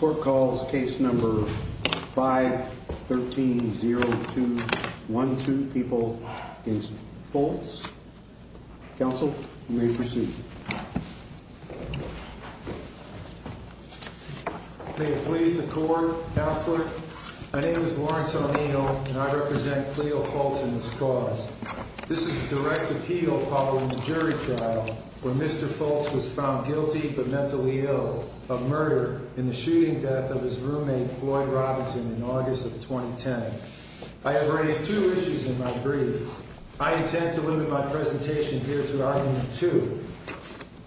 Court calls case number 513-0212, people against Fultz. Counsel, you may proceed. May it please the court, Counselor. My name is Lawrence O'Neill and I represent Cleo Fultz and this cause. This is a direct appeal following the jury trial where Mr. Fultz was found guilty but mentally ill of murder in the shooting death of his roommate Floyd Robinson in August of 2010. I have raised two issues in my brief. I intend to limit my presentation here to argument two.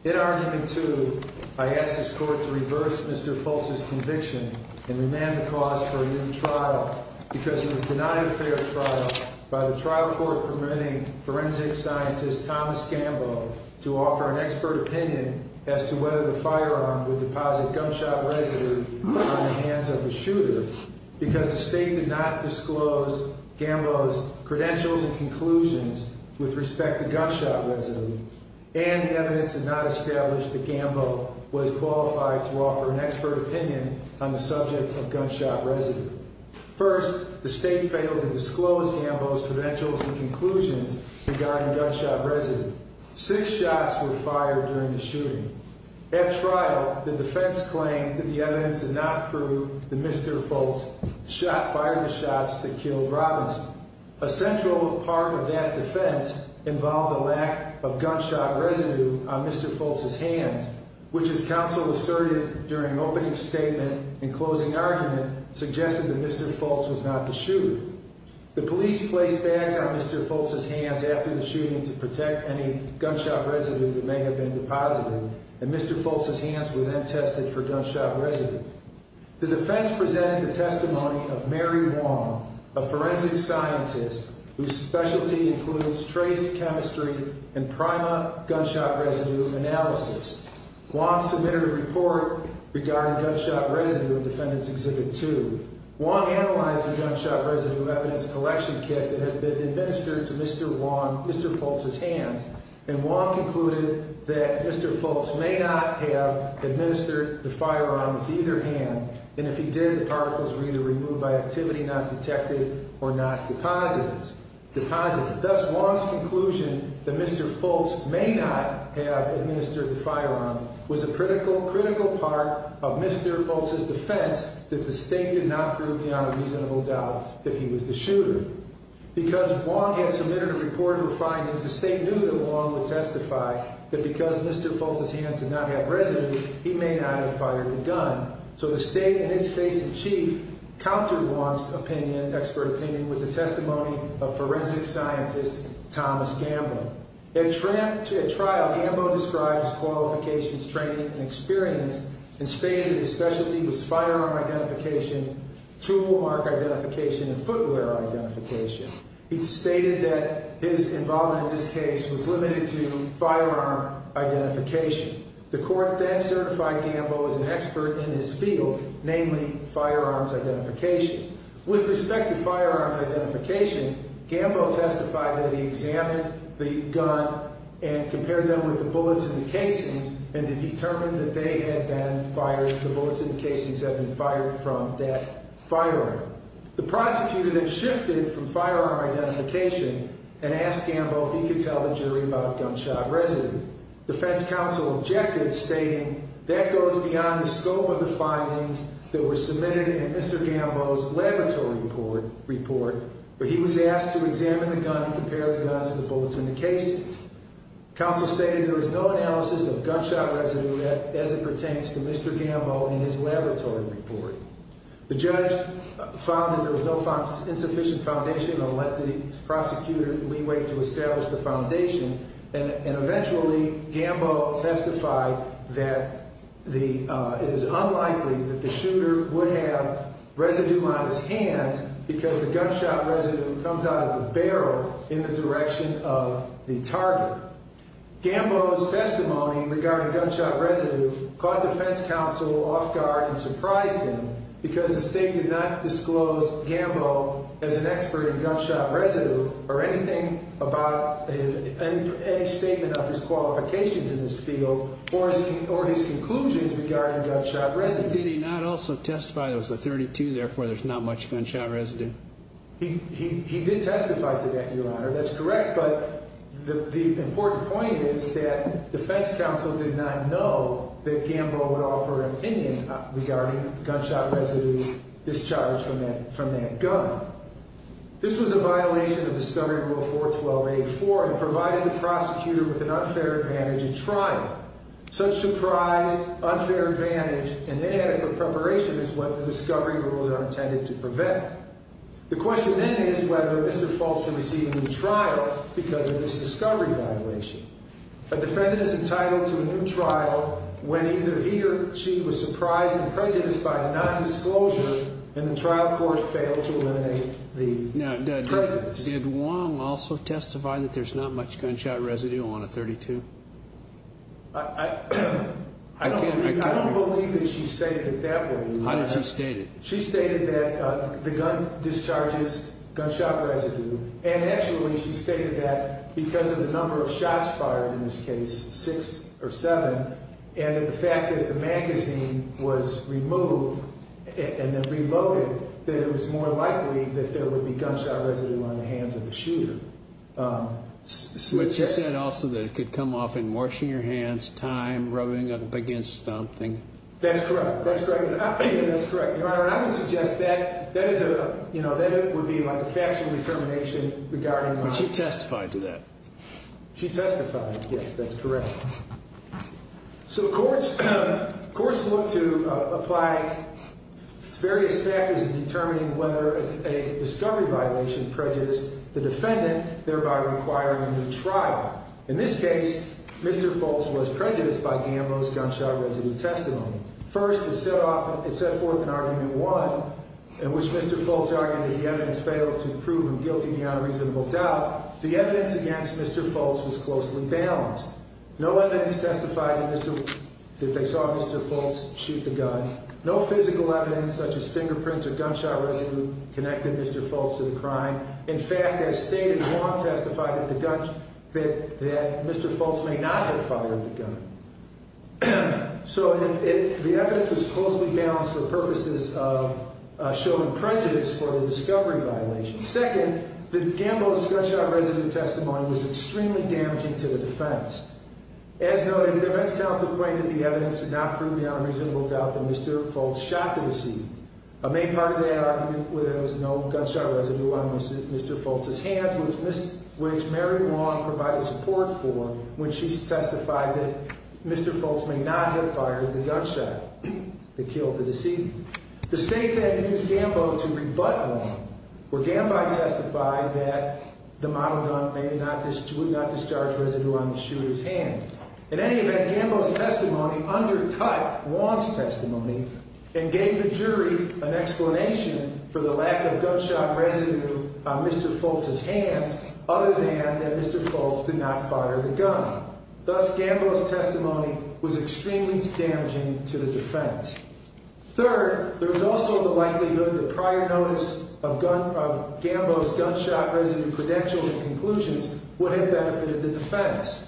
In argument two, I ask this court to reverse Mr. Fultz's conviction and remand the cause for a new trial because it was denied a fair trial by the trial court permitting forensic scientist Thomas Gambo to offer an expert opinion as to whether the firearm would deposit gunshot residue on the hands of the shooter because the state did not disclose Gambo's credentials and conclusions with respect to gunshot residue and the evidence did not establish that Gambo was qualified to offer an expert opinion on the subject of gunshot residue. First, the state failed to disclose Gambo's credentials and conclusions regarding gunshot residue. Six shots were fired during the shooting. At trial, the defense claimed that the evidence did not prove that Mr. Fultz fired the shots that killed Robinson. A central part of that defense involved a lack of gunshot residue on Mr. Fultz's hands which is counsel asserted during opening statement and closing argument suggested that Mr. Fultz was not the shooter. The police placed bags on Mr. Fultz's hands after the shooting to protect any gunshot residue that may have been deposited and Mr. Fultz's hands were then tested for gunshot residue. The defense presented the testimony of Mary Wong, a forensic scientist whose specialty includes trace chemistry and prima gunshot residue analysis. Wong submitted a report regarding gunshot residue in Defendant's Exhibit 2. Wong analyzed the gunshot residue evidence collection kit that had been administered to Mr. Fultz's hands and Wong concluded that Mr. Fultz may not have administered the firearm with either hand and if he did, the Wong's conclusion that Mr. Fultz may not have administered the firearm was a critical part of Mr. Fultz's defense that the state did not prove beyond a reasonable doubt that he was the shooter. Because Wong had submitted a report of her findings, the state knew that Wong would testify that because Mr. Fultz's hands did not have residue, he may not have fired the gun. So the state and Thomas Gambo. At trial, Gambo described his qualifications, training, and experience and stated his specialty was firearm identification, tool mark identification, and footwear identification. He stated that his involvement in this case was limited to firearm identification. The court then certified Gambo as an expert in his field, namely firearms identification. With respect to firearms identification, Gambo testified that he examined the gun and compared them with the bullets in the casings and determined that they had been fired, the bullets in the casings had been fired from that firearm. The prosecutor then shifted from firearm identification and asked Gambo if he could tell the jury about gunshot residue. Defense counsel objected, stating that goes beyond the scope of the findings that were submitted in Mr. Gambo's laboratory report where he was asked to examine the gun and compare the guns and the bullets in the casings. Counsel stated there was no analysis of gunshot residue as it pertains to Mr. Gambo in his laboratory report. The judge found that there was no insufficient foundation and let the prosecutor leeway to establish the foundation and eventually Gambo testified that it is unlikely that the shooter would have residue on his hand because the gunshot residue comes out of the barrel in the direction of the target. Gambo's testimony regarding gunshot residue caught defense counsel off guard and surprised him because the state did not disclose Gambo as an expert in gunshot residue or anything about any statement of his qualifications in this field or his conclusions regarding gunshot residue. Did he not also testify there was a 32 therefore there's not much gunshot residue? He did testify to that your honor that's correct but the important point is that defense counsel did not know that Gambo would offer an opinion regarding gunshot residue discharge from that gun. This was a violation of discovery rule 412-84 and provided the prosecutor with an unfair advantage in trial. Such surprise unfair advantage and inadequate preparation is what the discovery rules are intended to prevent. The question then is whether Mr. Fultz can receive a new trial because of this discovery violation. A defendant is entitled to a new trial when either he or she was surprised and prejudiced by the non-disclosure and the trial court failed to eliminate the prejudice. Did Wong also testify that there's not much gunshot residue on a 32? I don't believe that she stated it that way. How did she state it? She stated that the gun discharges gunshot residue and actually she stated that because of the number of shots fired in this case six or seven and that the fact that the magazine was removed and then reloaded that it was more likely that there would be gunshot residue on the hands of the shooter. But she said also that it could come off in washing your hands time rubbing up against something? That's correct that's correct that's correct your honor and I would suggest that that is a you know that it would be like a determination regarding she testified to that she testified yes that's correct so courts courts look to apply various factors in determining whether a discovery violation prejudiced the defendant thereby requiring a new trial. In this case Mr. Fultz was prejudiced by Gambo's gunshot residue testimony. First it set off it set forth an argument one in which Mr. Fultz argued that the evidence failed to prove him guilty beyond a reasonable doubt. The evidence against Mr. Fultz was closely balanced. No evidence testified that Mr. that they saw Mr. Fultz shoot the gun. No physical evidence such as fingerprints or gunshot residue connected Mr. Fultz to the crime. In fact as stated Wong testified that the gun that that Mr. Fultz may not have fired the gun. So if the evidence was closely balanced for purposes of showing prejudice for a discovery violation. Second the Gambo's gunshot residue testimony was extremely damaging to the defense. As noted the defense counsel claimed that the evidence did not prove beyond a reasonable doubt that Mr. Fultz shot the deceased. A main part of that argument was no gunshot residue on Mr. Fultz's hands which Mary Wong provided support for when she testified that Mr. Fultz may not have fired the gunshot that killed the deceased. The state then used Gambo to rebut Wong where Gambo testified that the model gun may not discharge residue on the shooter's hand. In any event Gambo's testimony undercut Wong's testimony and gave the jury an explanation for the lack of gunshot residue on Mr. Fultz's hands other than that Mr. Fultz did not fire the gun. Thus Gambo's testimony was extremely damaging to the defense. Third there was also the likelihood the prior notice of gun of Gambo's gunshot residue credentials and conclusions would have benefited the defense.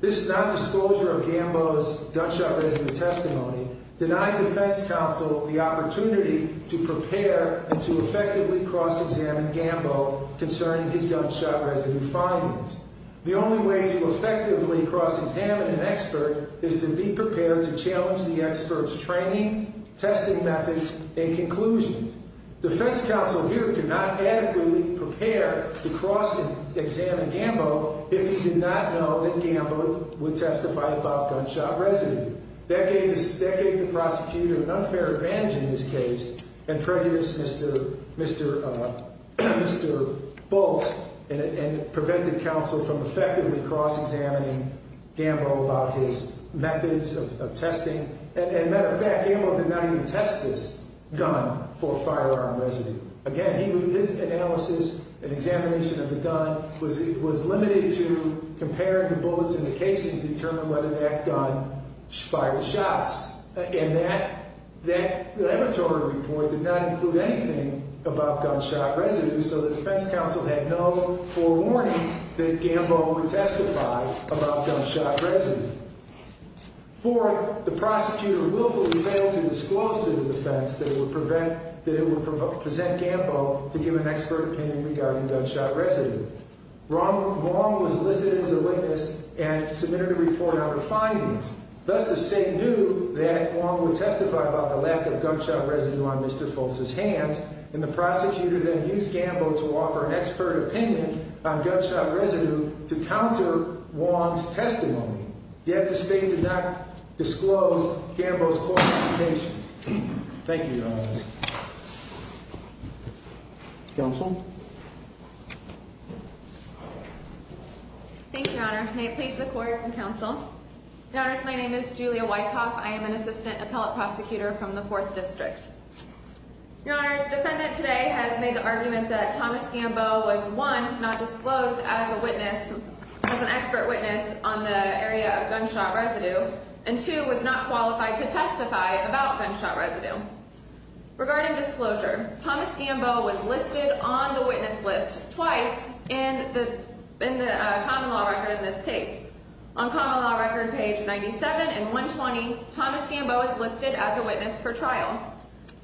This non-disclosure of Gambo's gunshot residue testimony denied defense counsel the opportunity to prepare and to effectively cross-examine Gambo concerning his gunshot residue findings. The only way to effectively cross-examine an expert is to be prepared to challenge the expert's training, testing methods, and conclusions. Defense counsel here could not adequately prepare to cross-examine Gambo if he did not know that Gambo would testify about gunshot residue. That gave the prosecutor an unfair advantage in this case and prejudiced Mr. Fultz and prevented counsel from effectively cross-examining Gambo about his methods of testing. As a matter of fact Gambo did not even test this gun for firearm residue. Again his analysis and examination of the firearm did not include anything about gunshot residue so the defense counsel had no forewarning that Gambo would testify about gunshot residue. Fourth the prosecutor willfully failed to disclose to the defense that it would prevent that it would present Gambo to give an expert opinion regarding gunshot residue. Wrong was listed as a witness and submitted a report out of findings. Thus the state knew that Wong would testify about the lack of gunshot residue on Mr. Fultz's hands and the prosecutor then used Gambo to offer an expert opinion on gunshot residue to counter Wong's testimony. Yet the state did not disclose Gambo's qualification. Thank you your honor. Counsel. Thank you your honor. May it please the court and counsel. Your honors my name is Julia Wyckoff. I am an assistant appellate prosecutor from the fourth district. Your honors defendant today has made the argument that Thomas Gambo was one not disclosed as a witness as an expert witness on the area of gunshot residue and two was not qualified to testify about twice in the in the common law record in this case. On common law record page 97 and 120 Thomas Gambo is listed as a witness for trial.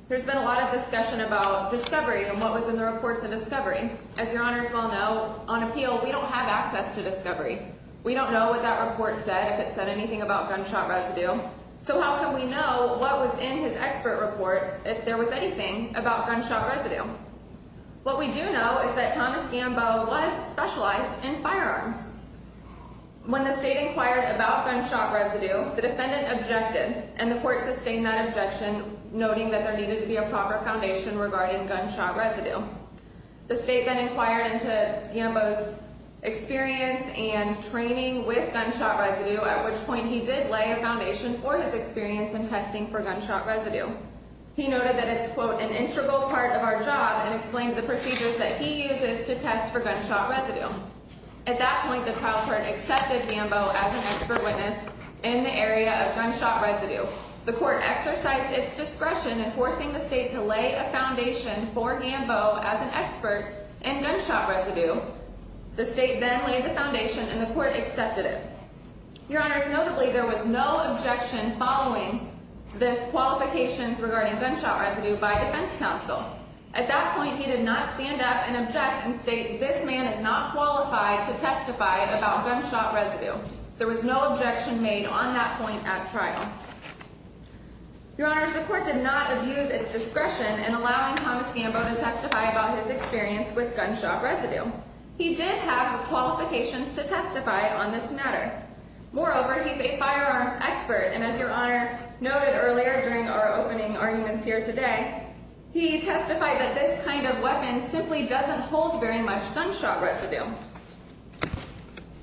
There's been a lot of discussion about discovery and what was in the reports of discovery. As your honors well know on appeal we don't have access to discovery. We don't know what that report said if it said anything about gunshot residue. So how can we know what was in his expert report if there was anything about gunshot residue? What we do know is that Thomas Gambo was specialized in firearms. When the state inquired about gunshot residue the defendant objected and the court sustained that objection noting that there needed to be a proper foundation regarding gunshot residue. The state then inquired into Gambo's experience and training with gunshot residue at which point he did lay a foundation for his experience in testing for gunshot residue. He noted that it's quote an integral part of our job and explained the procedures that he uses to test for gunshot residue. At that point the trial court accepted Gambo as an expert witness in the area of gunshot residue. The court exercised its discretion in forcing the state to lay a foundation for Gambo as an expert in gunshot residue. The state then laid the foundation and the court accepted it. Your honors notably there was no objection following this qualifications regarding gunshot residue by defense counsel. At that point he did not stand up and object and state this man is not qualified to testify about gunshot residue. There was no objection made on that point at trial. Your honors the court did not abuse its discretion in allowing Thomas Gambo to testify about his experience with gunshot residue. He did have qualifications to testify on this matter. Moreover he's a firearms expert and as your honor noted earlier during our opening arguments here today he testified that this kind of weapon simply doesn't hold very much gunshot residue.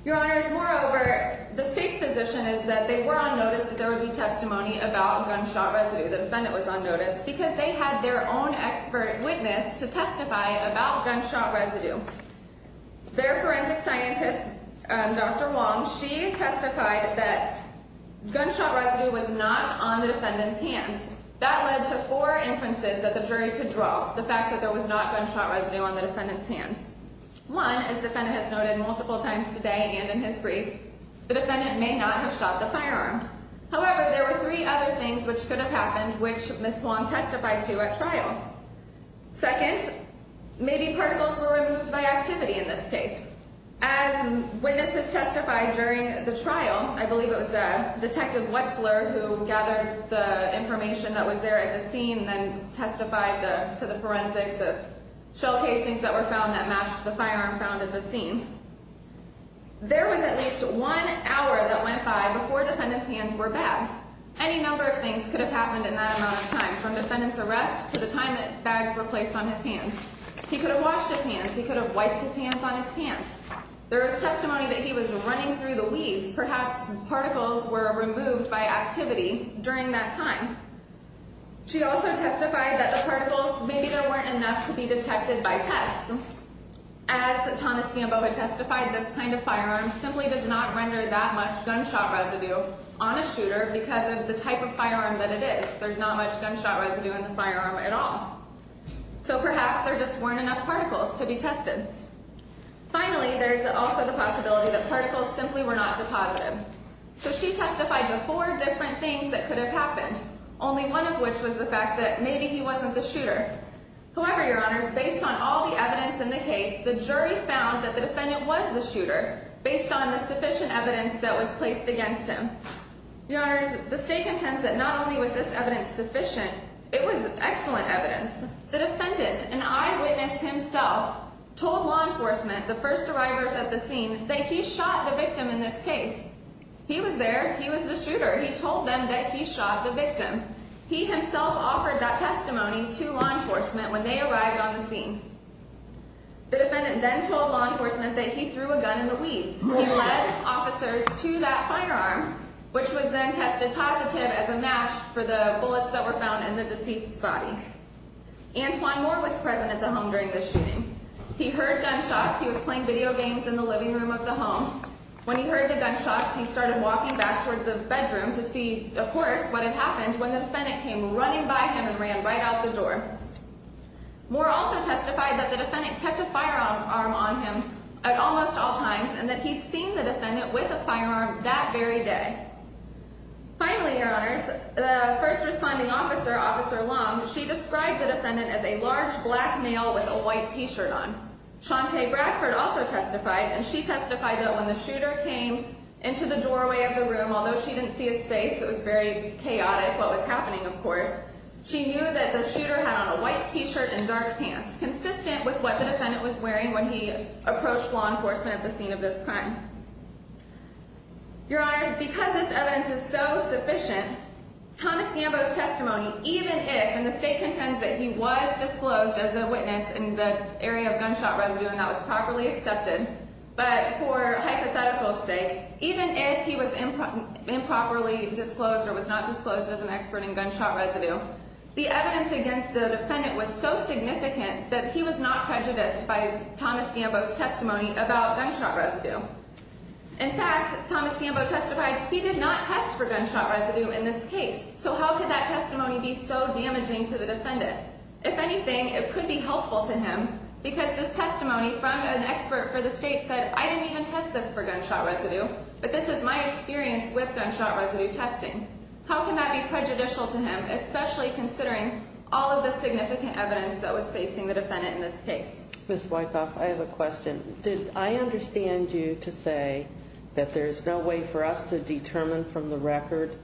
Your honors moreover the state's position is that they were on notice that there would be testimony about gunshot residue. The defendant was on notice because they had their own expert witness to testify about gunshot residue. Their forensic scientist Dr. Wong she testified that gunshot was not on the defendant's hands. That led to four inferences that the jury could draw the fact that there was not gunshot residue on the defendant's hands. One as defendant has noted multiple times today and in his brief the defendant may not have shot the firearm. However there were three other things which could have happened which Ms. Wong testified to at trial. Second maybe particles were removed by activity in this case. As witnesses testified during the gathered the information that was there at the scene then testified the to the forensics of shell casings that were found that matched the firearm found in the scene. There was at least one hour that went by before defendant's hands were bagged. Any number of things could have happened in that amount of time from defendant's arrest to the time that bags were placed on his hands. He could have washed his hands. He could have wiped his hands on his pants. There was testimony that he was running through the weeds. Perhaps particles were removed by activity during that time. She also testified that the particles maybe there weren't enough to be detected by tests. As Thomas Gamboa testified this kind of firearm simply does not render that much gunshot residue on a shooter because of the type of firearm that it is. There's not much gunshot residue in the firearm at all. So perhaps there just weren't enough particles to be tested. Finally there's also the possibility that particles simply were not deposited. So she testified to four different things that could have happened. Only one of which was the fact that maybe he wasn't the shooter. However your honors based on all the evidence in the case the jury found that the defendant was the shooter based on the sufficient evidence that was placed against him. Your honors the stake intends that not only was this evidence sufficient it was excellent evidence. The defendant an eyewitness himself told law enforcement the first arrivers at the scene that he shot the victim in this case. He was there. He was the shooter. He told them that he shot the victim. He himself offered that testimony to law enforcement when they arrived on the scene. The defendant then told law enforcement that he threw a gun in the weeds. He led officers to that firearm which was then tested positive as a match for the bullets that were found in the deceased's body. Antoine Moore was present at the home during the shooting. He heard gunshots. He was playing video games in the living room of the home. When he heard the gunshots he started walking back towards the bedroom to see of course what had happened when the defendant came running by him and ran right out the door. Moore also testified that the defendant kept a firearm on him at almost all times and that he'd seen the defendant with a firearm that very day. Finally your honors the first responding officer Long she described the defendant as a large black male with a white t-shirt on. Chante Bradford also testified and she testified that when the shooter came into the doorway of the room although she didn't see his face it was very chaotic what was happening of course she knew that the shooter had on a white t-shirt and dark pants consistent with what the defendant was wearing when he approached law enforcement at the scene of this crime. Your honors because this evidence is so and the state contends that he was disclosed as a witness in the area of gunshot residue and that was properly accepted but for hypothetical sake even if he was improperly disclosed or was not disclosed as an expert in gunshot residue the evidence against the defendant was so significant that he was not prejudiced by Thomas Gambo's testimony about gunshot residue. In fact Thomas Gambo testified he did not test for gunshot residue in this case so how could that testimony be so damaging to the defendant if anything it could be helpful to him because this testimony from an expert for the state said I didn't even test this for gunshot residue but this is my experience with gunshot residue testing how can that be prejudicial to him especially considering all of the significant evidence that was facing the defendant in this case. Ms. Wythoff I have a question did I understand you to say that there's no way for us to determine from the record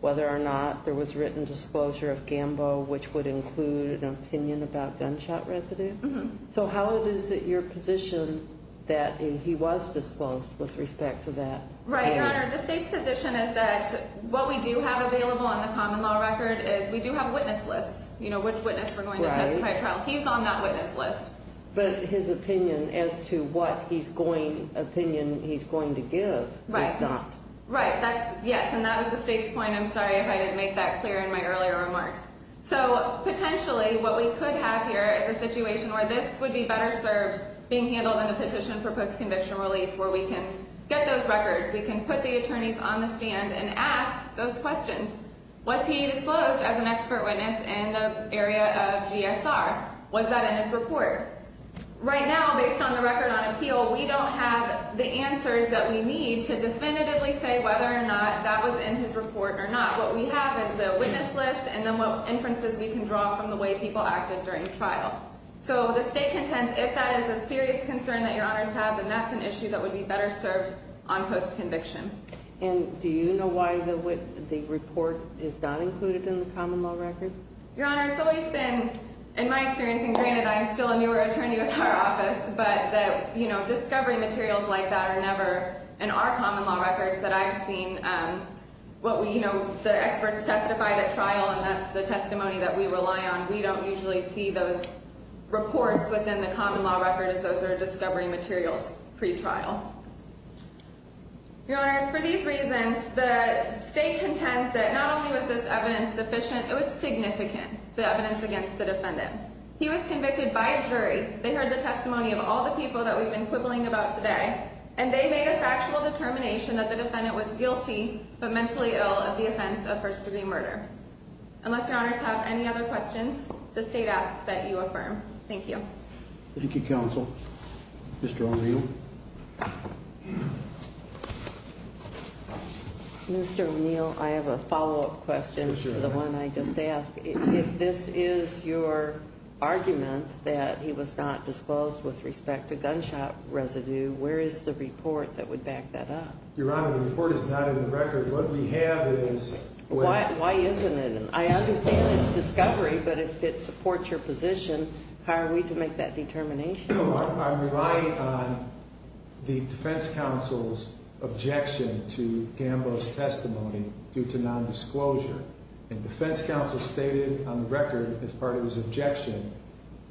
whether or not there was written disclosure of Gambo which would include an opinion about gunshot residue so how is it your position that he was disclosed with respect to that? Right your honor the state's position is that what we do have available on the common law record is we do have witness lists you know which witness we're going to testify trial he's on that witness list. But his opinion as to what he's going opinion he's going to give is not. Right that's yes and that is the state's point I'm sorry if I make that clear in my earlier remarks so potentially what we could have here is a situation where this would be better served being handled in a petition for post-conviction relief where we can get those records we can put the attorneys on the stand and ask those questions was he disclosed as an expert witness in the area of GSR? Was that in his report? Right now based on the record on appeal we don't have the answers that we need to definitively say whether or not that was in his report or not what we have is the witness list and then what inferences we can draw from the way people acted during trial. So the state contends if that is a serious concern that your honors have then that's an issue that would be better served on post-conviction. And do you know why the report is not included in the common law record? Your honor it's always been in my experience and granted I'm still a newer attorney with our office but that you know discovery materials like that are never in our common law records that I've seen what we you know the experts testified at trial and that's the testimony that we rely on we don't usually see those reports within the common law record as those are discovery materials pre-trial. Your honors for these reasons the state contends that not only was this evidence sufficient it was significant the evidence against the defendant. He was convicted by a jury they heard the testimony of all the people that we've been quibbling about today and they made a factual determination that the defendant was guilty but mentally ill at the offense of first degree murder. Unless your honors have any other questions the state asks that you affirm. Thank you. Thank you counsel. Mr. O'Neill. Mr. O'Neill I have a follow-up question to the one I just asked if this is your argument that he was not disclosed with respect to gunshot residue where is the report that would back that up? Your honor the report is not in the record what we have is. Why isn't it? I understand it's discovery but if it supports your position how are we to make that determination? I'm relying on the defense counsel's objection to Gambo's testimony due to non-disclosure and defense counsel stated on the record as part of his objection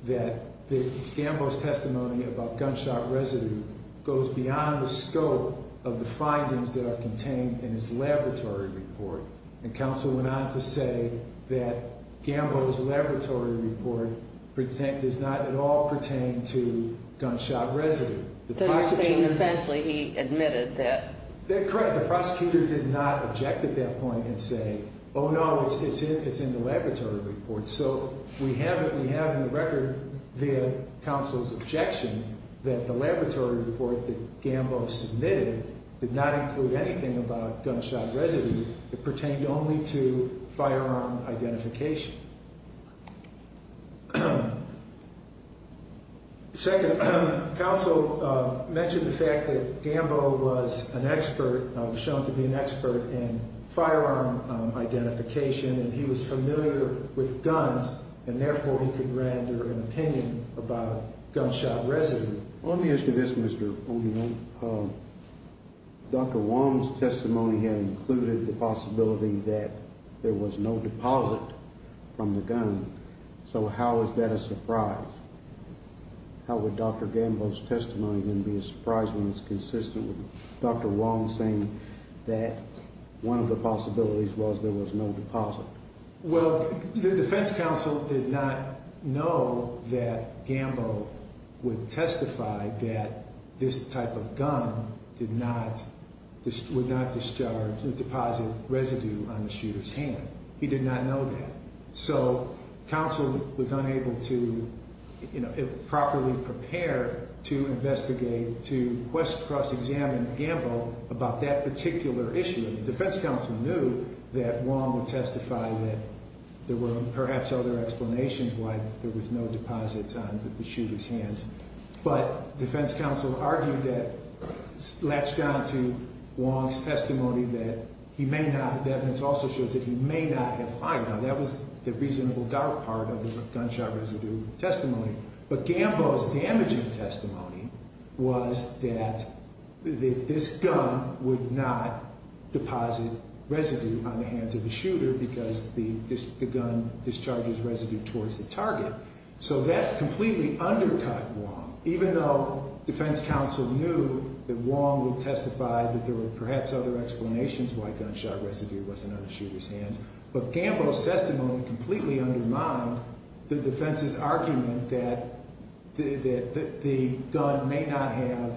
that the Gambo's testimony about gunshot residue goes beyond the scope of the findings that are contained in his laboratory report and counsel went on to say that Gambo's laboratory report pretend does not at all pertain to gunshot residue. So you're saying essentially he admitted that? That's correct the prosecutor did not object at that point and say oh no it's in it's in the laboratory report so we have it we have in the record via counsel's objection that the laboratory report that Gambo submitted did not include anything about gunshot residue it pertained only to firearm identification. Second, counsel mentioned the fact that Gambo was an expert was shown to be an expert in firearm identification and he was familiar with guns and therefore he could render an opinion about gunshot residue. On the issue of this Mr. O'Neill, Dr. Wong's testimony had included the gun so how is that a surprise? How would Dr. Gambo's testimony then be a surprise when it's consistent with Dr. Wong saying that one of the possibilities was there was no deposit? Well the defense counsel did not know that Gambo would testify that this type of gun did not this would not discharge the deposit residue on the shooter's hand. He did not know that so counsel was unable to you know properly prepare to investigate to quest cross examine Gambo about that particular issue. The defense counsel knew that Wong would testify that there were perhaps other explanations why there was no deposits on the shooter's hands but defense counsel argued that latched on to Wong's testimony that he may not have evidence also shows that he may not have fired. Now that was the reasonable doubt part of the gunshot residue testimony but Gambo's damaging testimony was that that this gun would not deposit residue on the hands of the shooter because the this the gun discharges residue towards the target so that completely undercut Wong even though defense counsel knew that Wong would testify that there were perhaps other explanations why gunshot residue wasn't on the shooter's hands but Gambo's testimony completely undermined the defense's argument that that the gun may not have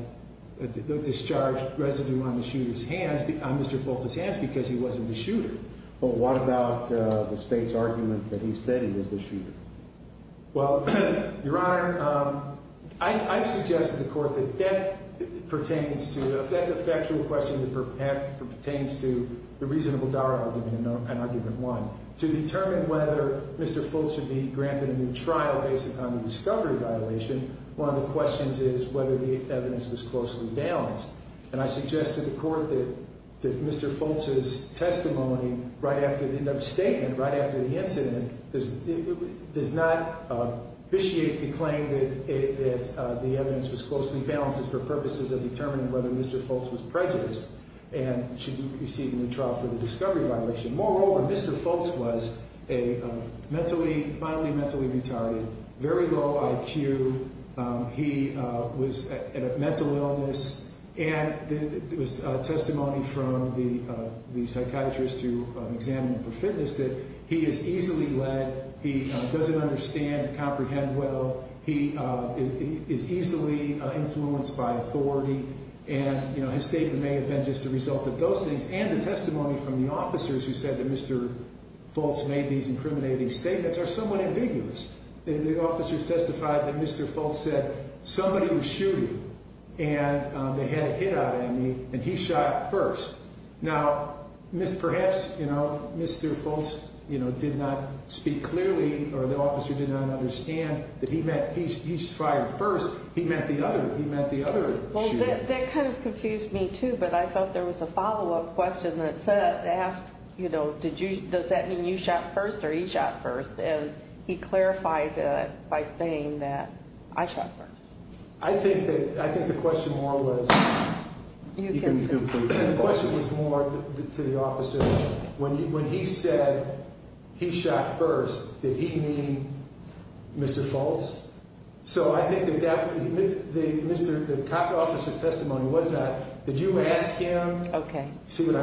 discharged residue on the shooter's hands on Mr. Folt's hands because he wasn't the shooter. What about the state's argument that he said he was the shooter? Well your honor I suggested the court that that pertains to if that's a factual question that pertains to the reasonable doubt and argument one to determine whether Mr. Folt should be granted a new trial based upon the discovery violation one of the questions is whether the evidence was closely balanced and I suggest to the court that that Mr. Folt's testimony right after the end of the statement right after the incident because it does not officiate the claim that it that the evidence was closely balanced for purposes of determining whether Mr. Folt was prejudiced and should be receiving the trial for the discovery violation moreover Mr. Folt was a mentally mildly mentally very low IQ he was at a mental illness and there was testimony from the the psychiatrist to examine him for fitness that he is easily led he doesn't understand comprehend well he is easily influenced by authority and you know his statement may have been just a result of those things and the testimony from the officers who said that Mr. Folt's made these incriminating statements are somewhat ambiguous the officers testified that Mr. Folt said somebody was shooting and they had a hit out on me and he shot first now perhaps you know Mr. Folt's you know did not speak clearly or the officer did not understand that he meant he's fired first he meant the other he meant the other well that kind of confused me too but I thought there was a follow-up question so they asked you know did you does that mean you shot first or he shot first and he clarified that by saying that I shot first I think that I think the question more was the question was more to the officer when when he said he shot first did he mean Mr. Folt's so I think that that was the Mr. the copy officer's testimony was that did you ask him okay see what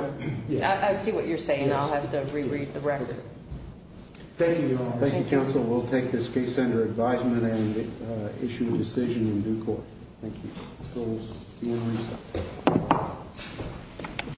I see what you're saying I'll have to reread the record thank you all thank you counsel we'll take this case under advisement and issue a decision in due court thank you